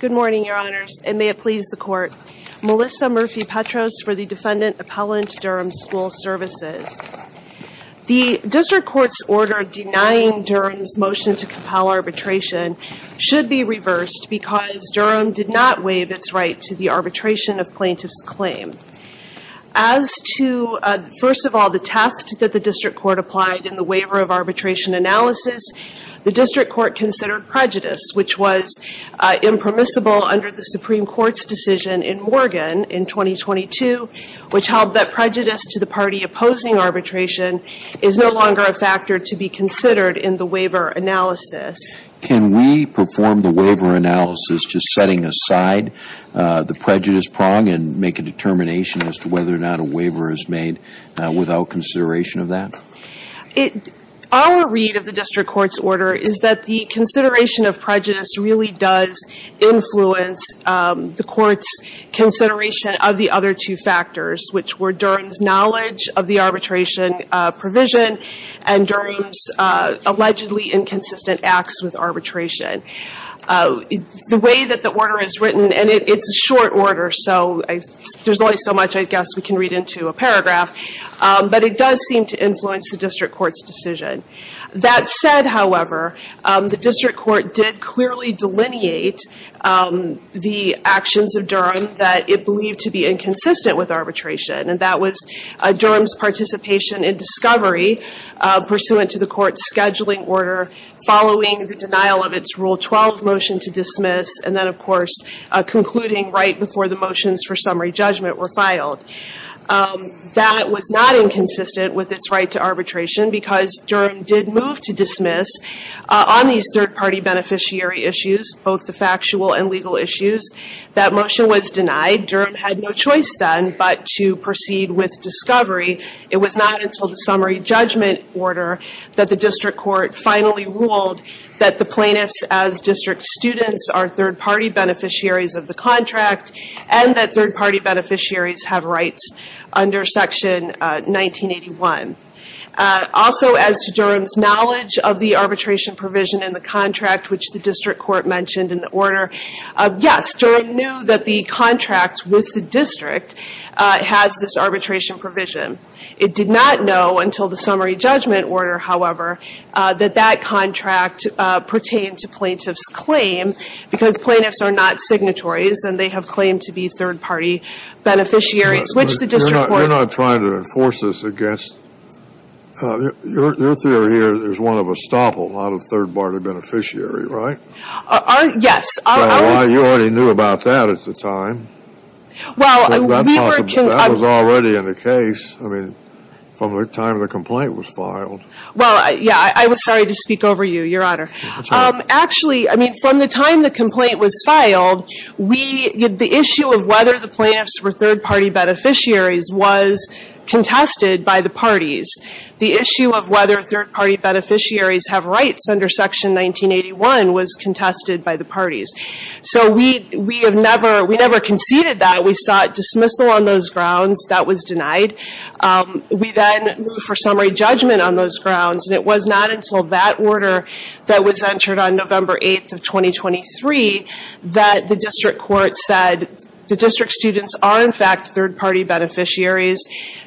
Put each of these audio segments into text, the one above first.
Good morning, Your Honors, and may it please the Court. Melissa Murphy-Petros for the Defendant Appellant, Durham School Services. The District Court's order denying Durham's motion to compel arbitration should be reversed because Durham did not waive its right to the arbitration of plaintiff's claim. As to, first of all, the test that the District Court applied in the waiver of arbitration analysis, the District Court considered prejudice, which was impermissible under the Supreme Court's decision in Morgan in 2022, which held that prejudice to the party opposing arbitration is no longer a factor to be considered in the waiver analysis. Can we perform the waiver analysis just setting aside the prejudice prong and make a determination as to whether or not a waiver is made without consideration of that? Our read of the District Court's order is that the consideration of prejudice really does influence the Court's consideration of the other two factors, which were Durham's knowledge of the arbitration provision and Durham's allegedly inconsistent acts with arbitration. The way that the order is written, and it's a short order, so there's only so much I guess we can read into a paragraph, but it does seem to influence the District Court's decision. That said, however, the District Court did clearly delineate the actions of Durham that it believed to be inconsistent with arbitration, and that was Durham's participation in discovery pursuant to the Court's scheduling order, following the denial of its Rule 12 motion to dismiss, and then of course concluding right before the motions for summary judgment were filed. That was not inconsistent with its right to arbitration because Durham did move to dismiss on these third-party beneficiary issues, both the factual and legal It was not until the summary judgment order that the District Court finally ruled that the plaintiffs as district students are third-party beneficiaries of the contract, and that third-party beneficiaries have rights under Section 1981. Also, as to Durham's knowledge of the arbitration provision in the contract, which the District Court mentioned in the order, yes, Durham knew that the contract with the district has this arbitration provision. It did not know until the summary judgment order, however, that that contract pertained to plaintiffs' claim because plaintiffs are not signatories and they have claimed to be third-party beneficiaries, which the District Court You're not trying to enforce this against, your theory here is one of estoppel, not a third-party beneficiary, right? Yes. You already knew about that at the time. Well, that was already in the case, I mean, from the time the complaint was filed. Well, yeah, I was sorry to speak over you, Your Honor. Actually, I mean, from the time the complaint was filed, the issue of whether the plaintiffs were third-party beneficiaries was contested by the parties. The issue of whether third-party beneficiaries have rights under Section 1981 was contested by the parties. So, we never conceded that. We sought dismissal on those grounds. That was denied. We then moved for summary judgment on those grounds, and it was not until that order that was entered on November 8th of 2023 that the District Court said the district students are, in fact, third-party beneficiaries.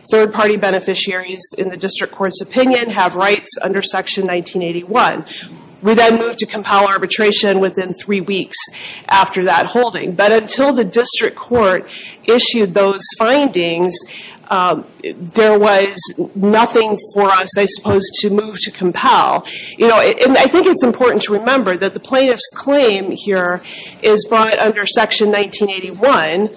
Third-party beneficiaries, in the District Court's opinion, have rights under Section 1981. We then moved to compel arbitration within three weeks after that holding, but until the District Court issued those findings, there was nothing for us, I suppose, to move to compel. You know, and I think it's important to remember that the plaintiff's claim here is brought under Section 1981,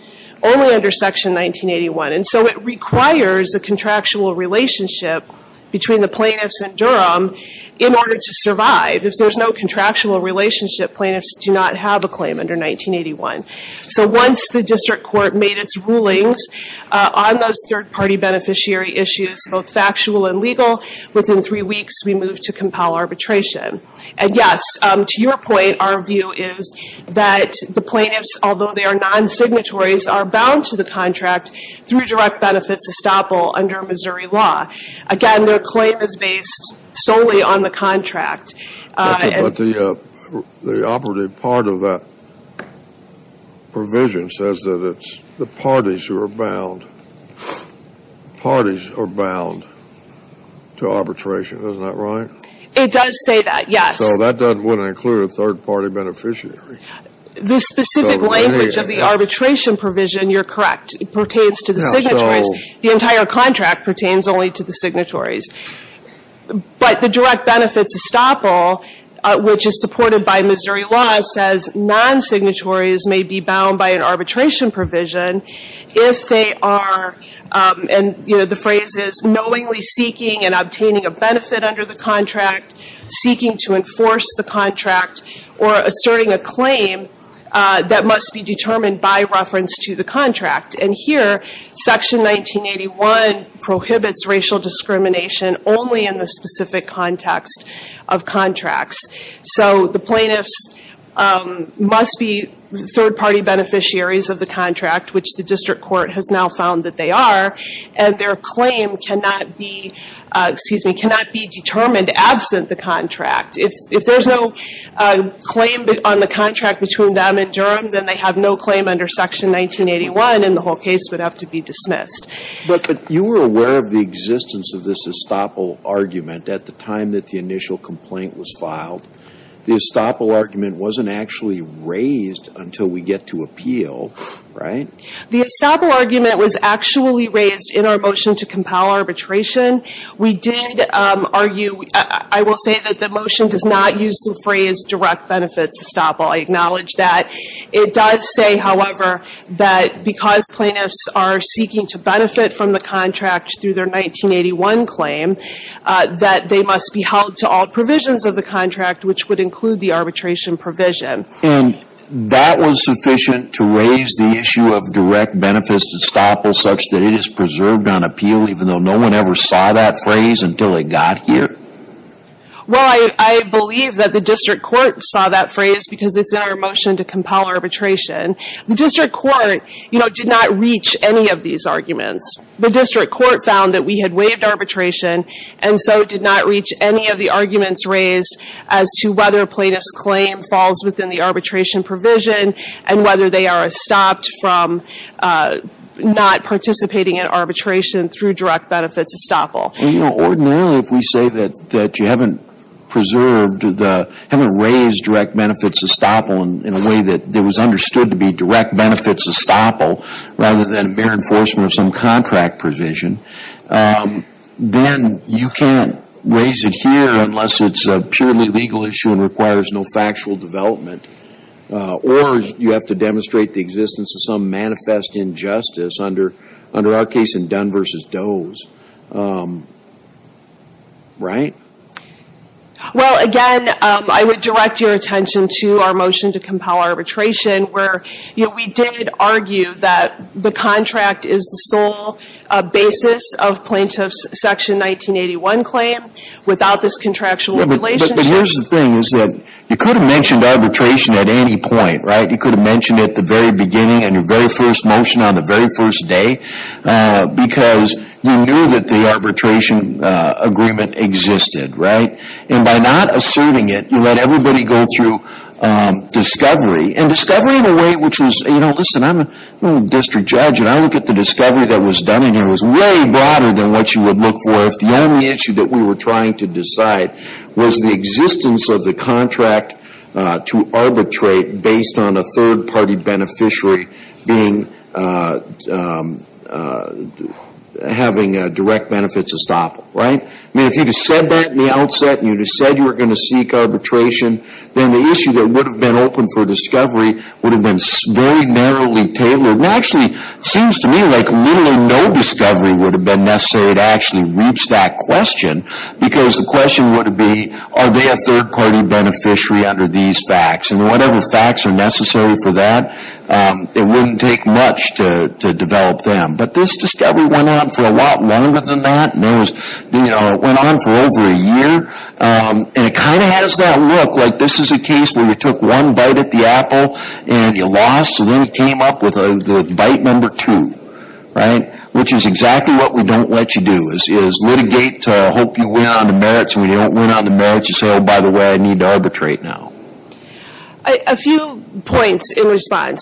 only under Section 1981, and so it requires a contractual relationship between the plaintiffs and Durham in order to survive. If there's no contractual relationship, plaintiffs do not have a claim under 1981. So, once the District Court made its rulings on those third-party beneficiary issues, both factual and legal, within three weeks we moved to compel arbitration. And, yes, to your point, our view is that the plaintiffs, although they are non-signatories, are bound to the contract through direct benefits estoppel under Missouri law. Again, their claim is based solely on the contract. But the operative part of that provision says that it's the parties who are bound. Parties are bound to arbitration. Isn't that right? It does say that, yes. So that doesn't want to include a third-party beneficiary. The specific language of the arbitration provision, you're correct, pertains to the signatories. The entire contract pertains only to the signatories. But the direct benefits estoppel, which is supported by Missouri law, says non-signatories may be bound by an arbitration provision if they are, and, you know, the phrase knowingly seeking and obtaining a benefit under the contract, seeking to enforce the contract, or asserting a claim that must be determined by reference to the contract. And here, Section 1981 prohibits racial discrimination only in the specific context of contracts. So the plaintiffs must be third-party beneficiaries of the contract, which the district court has now found that they are, and their claim cannot be determined absent the contract. If there's no claim on the contract between them and Durham, then they have no claim under Section 1981, and the whole case would have to be dismissed. But you were aware of the existence of this estoppel argument at the time that the initial complaint was filed. The estoppel argument wasn't actually raised until we get to appeal, right? The estoppel argument was actually raised in our motion to compel arbitration. We did argue, I will say that the motion does not use the phrase direct benefits estoppel. I acknowledge that. It does say, however, that because plaintiffs are seeking to benefit from the contract through their 1981 claim, that they must be held to all provisions of the contract, which would include the arbitration provision. And that was sufficient to raise the issue of direct benefits estoppel such that it is preserved on appeal, even though no one ever saw that phrase until it got here? Well, I believe that the district court saw that phrase because it's in our motion to compel arbitration. The district court, you know, did not reach any of these arguments. The district court found that we had waived arbitration, and so it did not reach any of the arguments raised as to whether a plaintiff's claim falls within the arbitration provision, and whether they are stopped from not participating in arbitration through direct benefits estoppel. You know, ordinarily, if we say that you haven't preserved the, haven't raised direct benefits estoppel in a way that it was understood to be direct benefits estoppel, rather than a bare enforcement of some contract provision, then you can't raise it here unless it's a purely legal issue and requires no factual development. Or you have to demonstrate the existence of some manifest injustice under our case in Dunn v. Doe's. Right? Well, again, I would direct your attention to our motion to compel arbitration, where, you know, we did argue that the contract is the sole basis of plaintiff's Section 1981 claim without this contractual relationship. But here's the thing, is that you could have mentioned arbitration at any point, right? You could have mentioned it at the very beginning, in your very first motion, on the very first day, because you knew that the arbitration agreement existed, right? And by not asserting it, you let everybody go through discovery. And discovery in a way which was, you know, listen, I'm a district judge, and I look at the discovery that was done, and it was way broader than what you would look for if the only issue that we were trying to decide was the existence of the contract to arbitrate based on a third party beneficiary being, having direct benefits estoppel, right? I mean, if you'd have said that in the outset, and you'd have said you were going to seek arbitration, then the issue that would have been open for discovery would have been very narrowly tailored. And actually, seems to me like literally no discovery would have been necessary to actually reach that question, because the question would be, are they a third party beneficiary under these facts? And whatever facts are necessary for that, it wouldn't take much to develop them. But this discovery went on for a lot longer than that. It went on for over a year. And it kind of has that look, like this is a case where you took one bite at the apple, and you lost, and then you came up with the bite number two, right? Which is exactly what we don't let you do, is litigate to hope you win on the merits, and when you don't win on the merits, you say, oh, by the way, I need to arbitrate now. MS. HAYES A few points in response.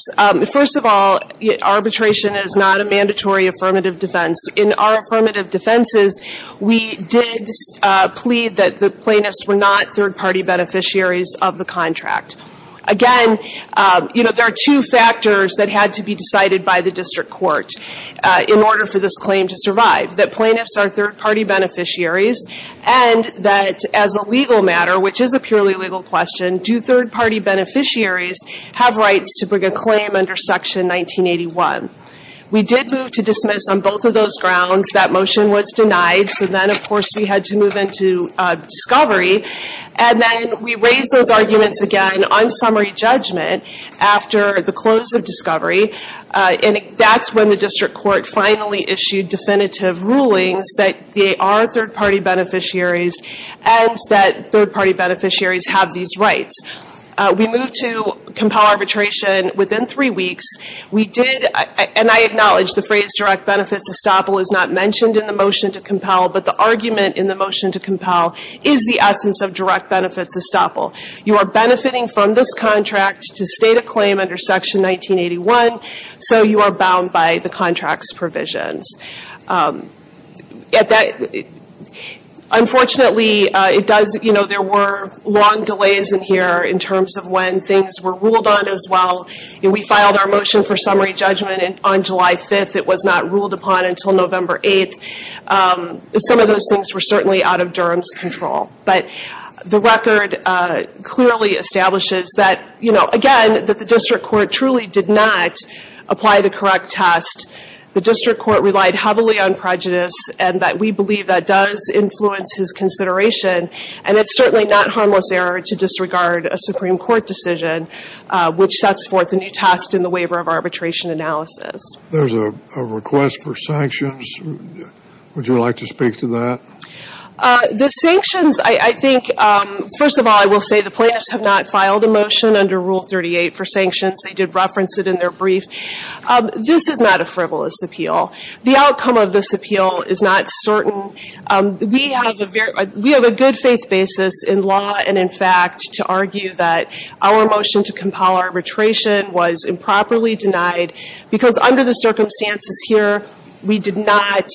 First of all, arbitration is not a mandatory affirmative defense. In our affirmative defenses, we did plead that the plaintiffs were not third party beneficiaries of the contract. Again, you know, there are two factors that had to be decided by the district court in order for this claim to survive. That plaintiffs are third party beneficiaries, and that as a legal matter, which is a purely legal question, do third party beneficiaries have rights to bring a claim under Section 1981? We did move to dismiss on both of those grounds. That motion was denied. So then, of course, we had to move into discovery. And then we raised those arguments again on summary judgment after the close of discovery, and that's when the district court finally issued definitive rulings that they are third party beneficiaries and that third party beneficiaries have these rights. We moved to compel arbitration within three weeks. We did, and I acknowledge the phrase direct benefits estoppel is not mentioned in the motion to compel, is the essence of direct benefits estoppel. You are benefiting from this contract to state a claim under Section 1981, so you are bound by the contract's provisions. Unfortunately, it does, you know, there were long delays in here in terms of when things were ruled on as well. We filed our motion for summary judgment on July 5th. It was not ruled upon until November 8th. Some of those things were certainly out of Durham's control. But the record clearly establishes that, you know, again, that the district court truly did not apply the correct test. The district court relied heavily on prejudice and that we believe that does influence his consideration, and it's certainly not harmless error to disregard a Supreme Court decision which sets forth a new test in the waiver of arbitration analysis. There's a request for sanctions. Would you like to speak to that? The sanctions, I think, first of all, I will say the plaintiffs have not filed a motion under Rule 38 for sanctions. They did reference it in their brief. This is not a frivolous appeal. The outcome of this appeal is not certain. We have a good faith basis in law and in fact to argue that our motion to compel arbitration was improperly denied because under the circumstances here, we did not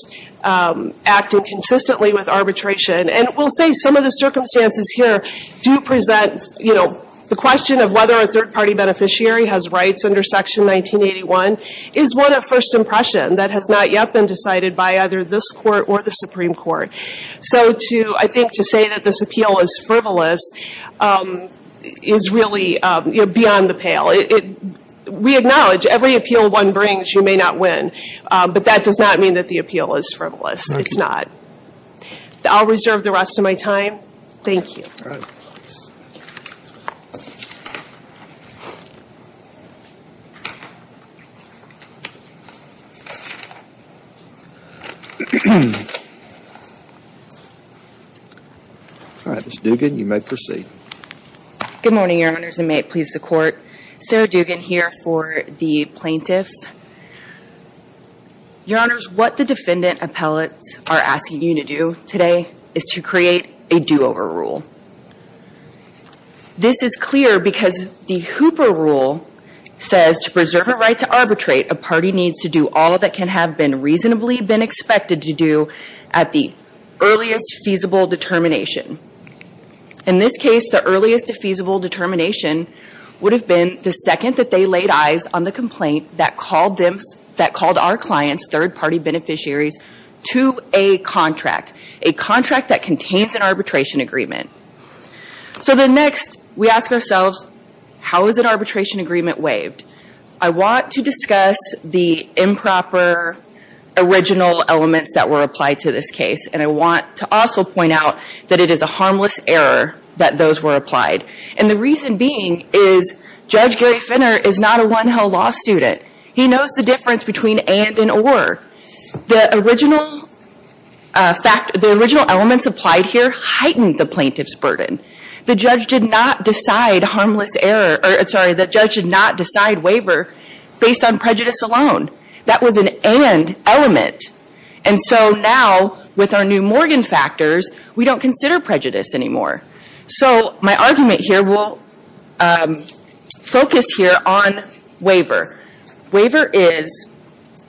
act inconsistently with arbitration. And we'll say some of the circumstances here do present, you know, the question of whether a third party beneficiary has rights under Section 1981 is one of first impression that has not yet been decided by either this court or the Supreme Court. So to, I think, to say that this appeal is frivolous is really beyond the pale. We acknowledge every appeal one brings, you may not win. But that does not mean that the appeal is frivolous. It's not. I'll reserve the rest of my time. Thank you. All right. Ms. Dugan, you may proceed. Good morning, Your Honors, and may it please the Court. Sarah Dugan here for the plaintiff. Your Honors, what the defendant appellate are asking you to do today is to create a do-over rule. This is clear because the Hooper Rule says to preserve a right to arbitrate, a party needs to do all that can have been reasonably been expected to do at the earliest feasible determination. In this case, the earliest feasible determination would have been the second that they laid eyes on the complaint that called them, that called our clients, third party beneficiaries, to a contract, a contract that contains an arbitration agreement. So then next, we ask ourselves, how is an arbitration agreement waived? I want to discuss the improper original elements that were applied to this case, and I want to also point out that it is a harmless error that those were applied. And the reason being is Judge Gary Finner is not a one-hell law student. He knows the difference between and and or. The original elements applied here heightened the plaintiff's burden. The judge did not decide harmless error, or sorry, the judge did not decide waiver based on prejudice alone. That was an and element. And so now with our new Morgan factors, we don't consider prejudice anymore. So my argument here will focus here on waiver. Waiver is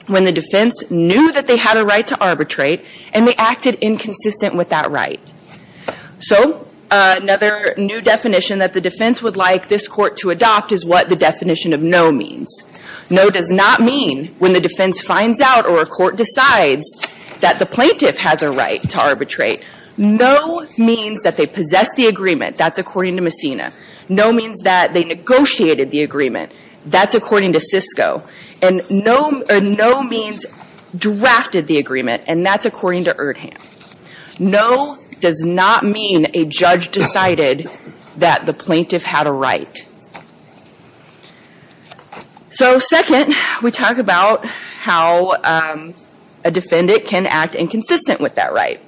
when the defense knew that they had a right to arbitrate and they acted inconsistent with that right. So another new definition that the defense would like this court to adopt is what the definition of no means. No does not mean when the defense finds out or a court decides that the plaintiff has a right to arbitrate. No means that they possess the agreement. That's according to Messina. No means that they negotiated the agreement. That's according to Sisko. And no means drafted the agreement, and that's according to Erdham. No does not mean a judge decided that the plaintiff had a right. So second, we talk about how a defendant can act inconsistent with that right.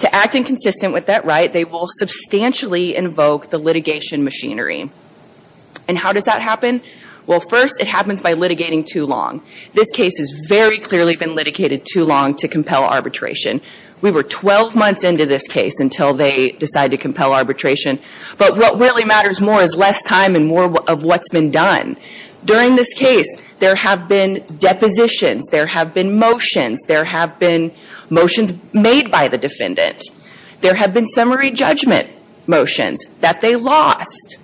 To act inconsistent with that right, they will substantially invoke the litigation machinery. And how does that happen? Well first, it happens by litigating too long. This case has very clearly been litigated too long to compel arbitration. We were twelve months into this case until they decided to compel more of what's been done. During this case, there have been depositions, there have been motions, there have been motions made by the defendant. There have been summary judgment motions that they lost.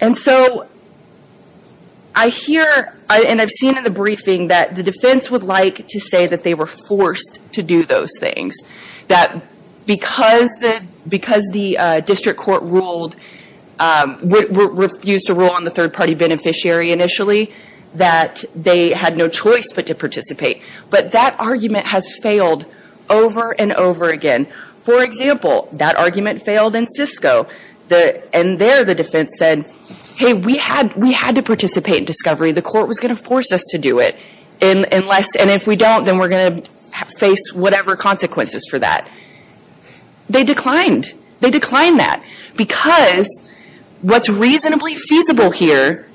And so I hear, and I've seen in the briefing, that the defense would like to say that they were forced to do those things. That because the district court refused to rule on the third party beneficiary initially, that they had no choice but to participate. But that argument has failed over and over again. For example, that argument failed in Sisko. And there the defense said, hey, we had to participate in discovery. The court was going to force us to do it. And if we don't, then we're going to face whatever consequences for that. They declined. They declined that. Because what's reasonably feasible here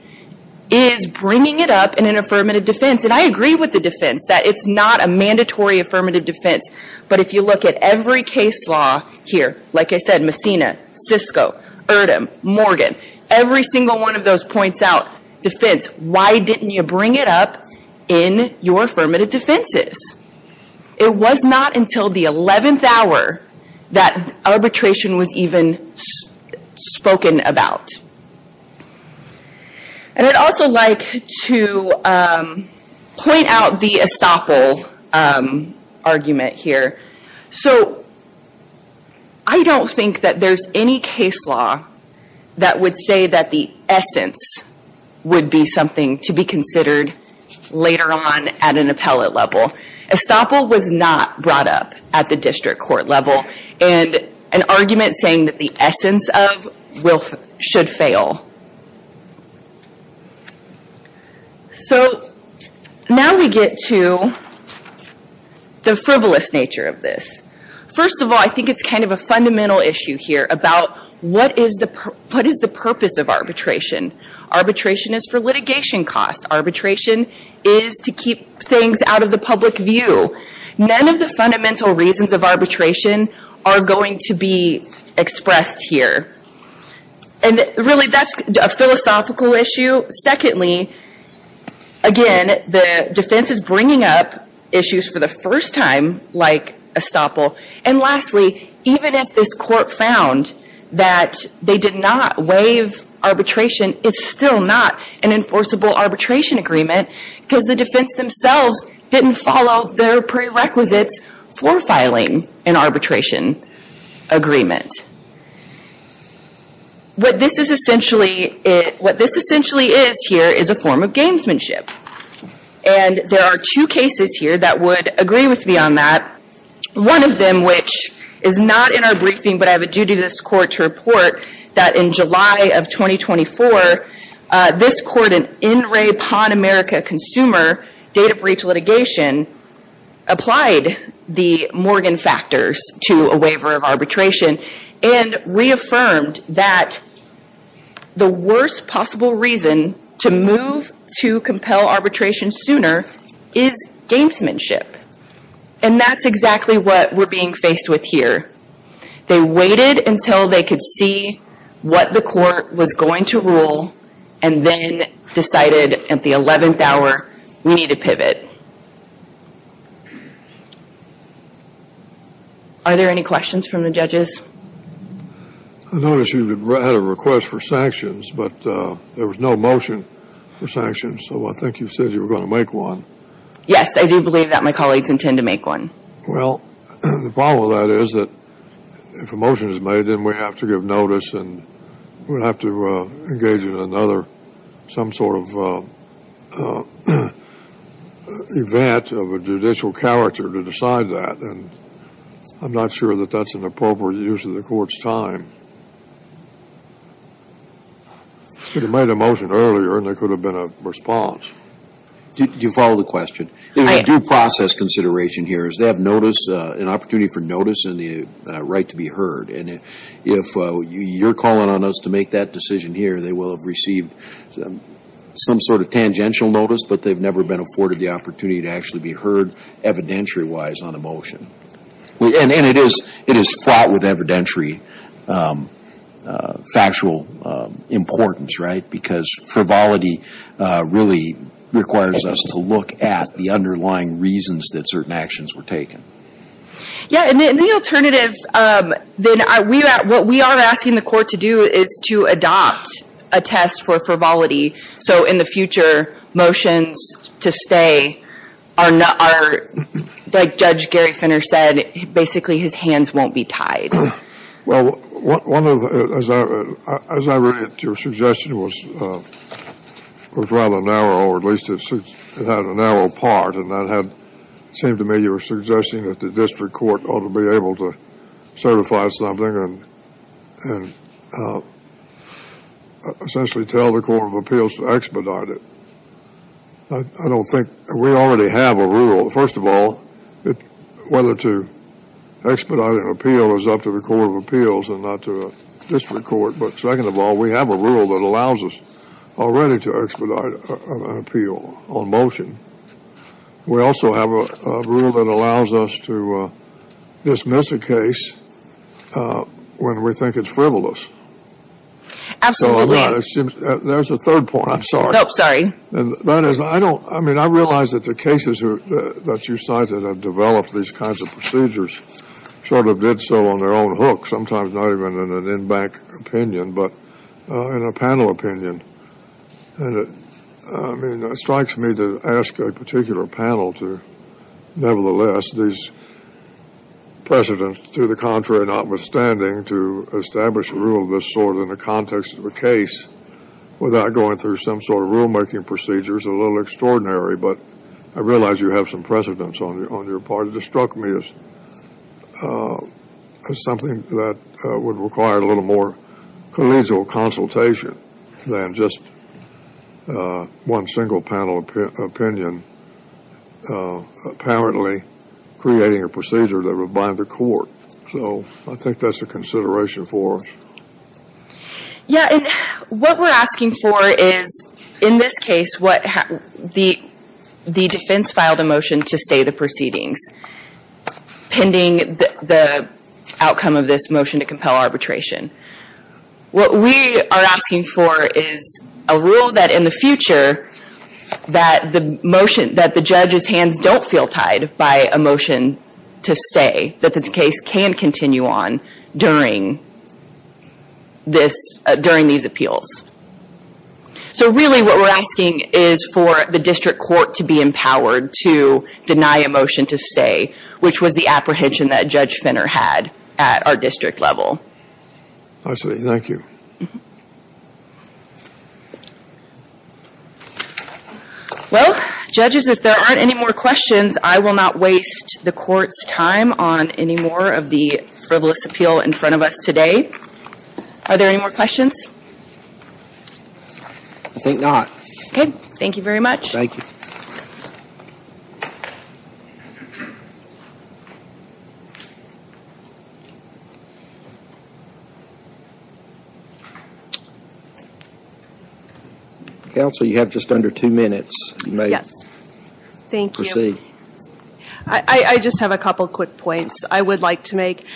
is bringing it up in an affirmative defense. And I agree with the defense, that it's not a mandatory affirmative defense. But if you look at every case law here, like I said, Messina, Sisko, Erdem, Morgan, every single one of those points out defense. Why didn't you bring it up in your affirmative defenses? It was not until the 11th hour that arbitration was even spoken about. And I'd also like to point out the estoppel argument here. So I don't think that there's any case law that would say that the essence would be something to be considered later on at an appellate level. Estoppel was not brought up at the district court level. And an argument saying that the essence of should fail. So now we get to the frivolous nature of this. First of all, I think it's kind of a fundamental issue here about what is the purpose of arbitration. Arbitration is for litigation costs. Arbitration is to keep things out of the public view. None of the fundamental reasons of arbitration are going to be expressed here. And really, that's a philosophical issue. Secondly, again, the defense is bringing up issues for the first time, like estoppel. And lastly, even if this court found that they did not waive arbitration, it's still not an enforceable arbitration agreement because the defense themselves didn't follow their prerequisites for filing an arbitration agreement. What this essentially is here is a form of gamesmanship. And there are two cases here that would agree with me on that. One of them, which is not in our briefing, but I have a duty to this court to report, that in July of 2024, this court, an NRA PON America consumer data breach litigation, applied the Morgan factors to a waiver of arbitration and reaffirmed that the worst possible reason to move to compel arbitration sooner is gamesmanship. And that's exactly what we're being faced with here. They waited until they could see what the court was going to rule and then decided at the 11th hour, we need to pivot. Are there any questions from the I noticed you had a request for sanctions, but there was no motion for sanctions. So I think you said you were going to make one. Yes, I do believe that my colleagues intend to make one. Well, the problem with that is that if a motion is made, then we have to give notice and we'll have to engage in another, some sort of event of a judicial character to decide that. And I'm not sure that that's an appropriate use of the court's time. They could have made a motion earlier and there could have been a response. Do you follow the question? There's a due process consideration here is they have notice, an opportunity for notice and the right to be heard. And if you're calling on us to make that decision here, they will have received some sort of tangential notice, but they've never been afforded the opportunity to actually be heard evidentiary wise on a motion. And it is fraught with evidentiary, factual importance, right? Because frivolity really requires us to look at the underlying reasons that certain actions were taken. Yeah, and the alternative then, what we are asking the court to do is to adopt a test for frivolity. So in the future, motions to stay are, like Judge Gary Finner said, basically his hands won't be tied. Well, as I read it, your suggestion was rather narrow, or at least it had a narrow part. And it seemed to me you were suggesting that the district court ought to be able to certify something and essentially tell the Court of Appeals to expedite it. I don't think, we already have a rule. First of all, whether to expedite an appeal is up to the Court of Appeals and not to a district court. But second of all, we have a rule that allows us already to expedite an appeal on motion. We also have a rule that allows us to dismiss a case when we think it's frivolous. Absolutely. There's a point. I'm sorry. No, sorry. That is, I don't, I mean, I realize that the cases that you cited have developed these kinds of procedures sort of did so on their own hook, sometimes not even in an in-bank opinion, but in a panel opinion. And it, I mean, it strikes me to ask a particular panel to, nevertheless, these precedents, to the contrary, notwithstanding, to establish a rule of this sort in the context of a case without going through some sort of rulemaking procedures, a little extraordinary. But I realize you have some precedents on your part. It just struck me as something that would require a little more collegial consultation than just one single panel opinion apparently creating a procedure that would bind the court. So I think that's a consideration for us. Yeah, and what we're asking for is, in this case, what the defense filed a motion to stay the proceedings pending the outcome of this motion to compel arbitration. What we are asking for is a rule that in the future that the motion, that the judge's hands don't feel tied by a motion to stay, that the case can continue on during this, during these appeals. So really what we're asking is for the district court to be empowered to deny a motion to stay, which was the apprehension that Judge Finner had at our district level. Lastly, thank you. Well, judges, if there aren't any more questions, I will not waste the court's time on any more of the frivolous appeal in front of us today. Are there any more questions? I think not. Okay, thank you very much. Thank you. Counsel, you have just under two minutes. You may proceed. Yes, thank you. I just have a couple quick points I would like to make.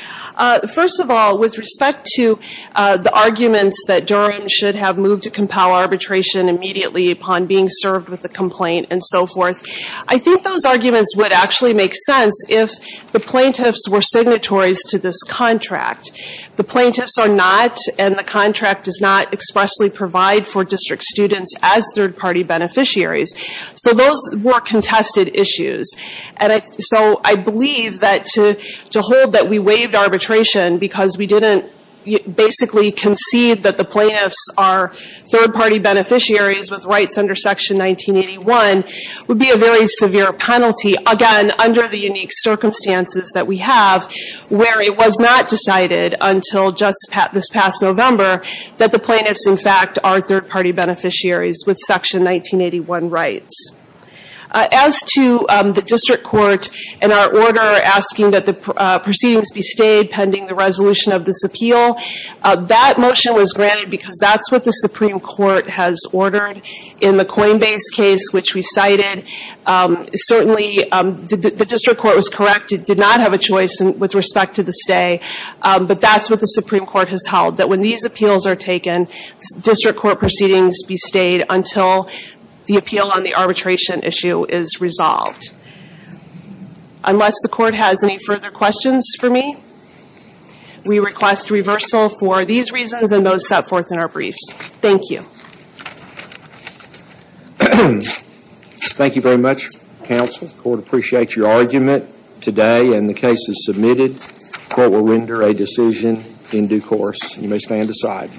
First of all, with respect to the arguments that Durham should have moved to compel arbitration immediately upon being served with the complaint and so forth, I think those arguments would actually make sense if the plaintiffs were signatories to this contract. The plaintiffs are not, and the contract does not expressly provide for district students as third-party beneficiaries. So those were contested issues. And so I believe that to hold that we waived arbitration because we didn't basically concede that the plaintiffs are third-party beneficiaries with rights under Section 1981 would be a very severe penalty, again, under the unique circumstances that we have, where it was not decided until just this past November that the plaintiffs, in fact, are third-party beneficiaries with Section 1981 rights. As to the district court and our order asking that the proceedings be stayed pending the resolution of this appeal, that motion was granted because that's what the Supreme Court has ordered in the Coinbase case, which we cited. Certainly, the district court was correct. It did not have a choice with respect to the stay, but that's what the Supreme Court has held, that when these appeals are taken, district court proceedings be stayed until the appeal on the arbitration issue is resolved. Unless the court has any further questions for me, we request reversal for these reasons and those set forth in our briefs. Thank you. Thank you very much, counsel. The court appreciates your argument today and the case is submitted. The court will render a decision in due course. You may stand aside.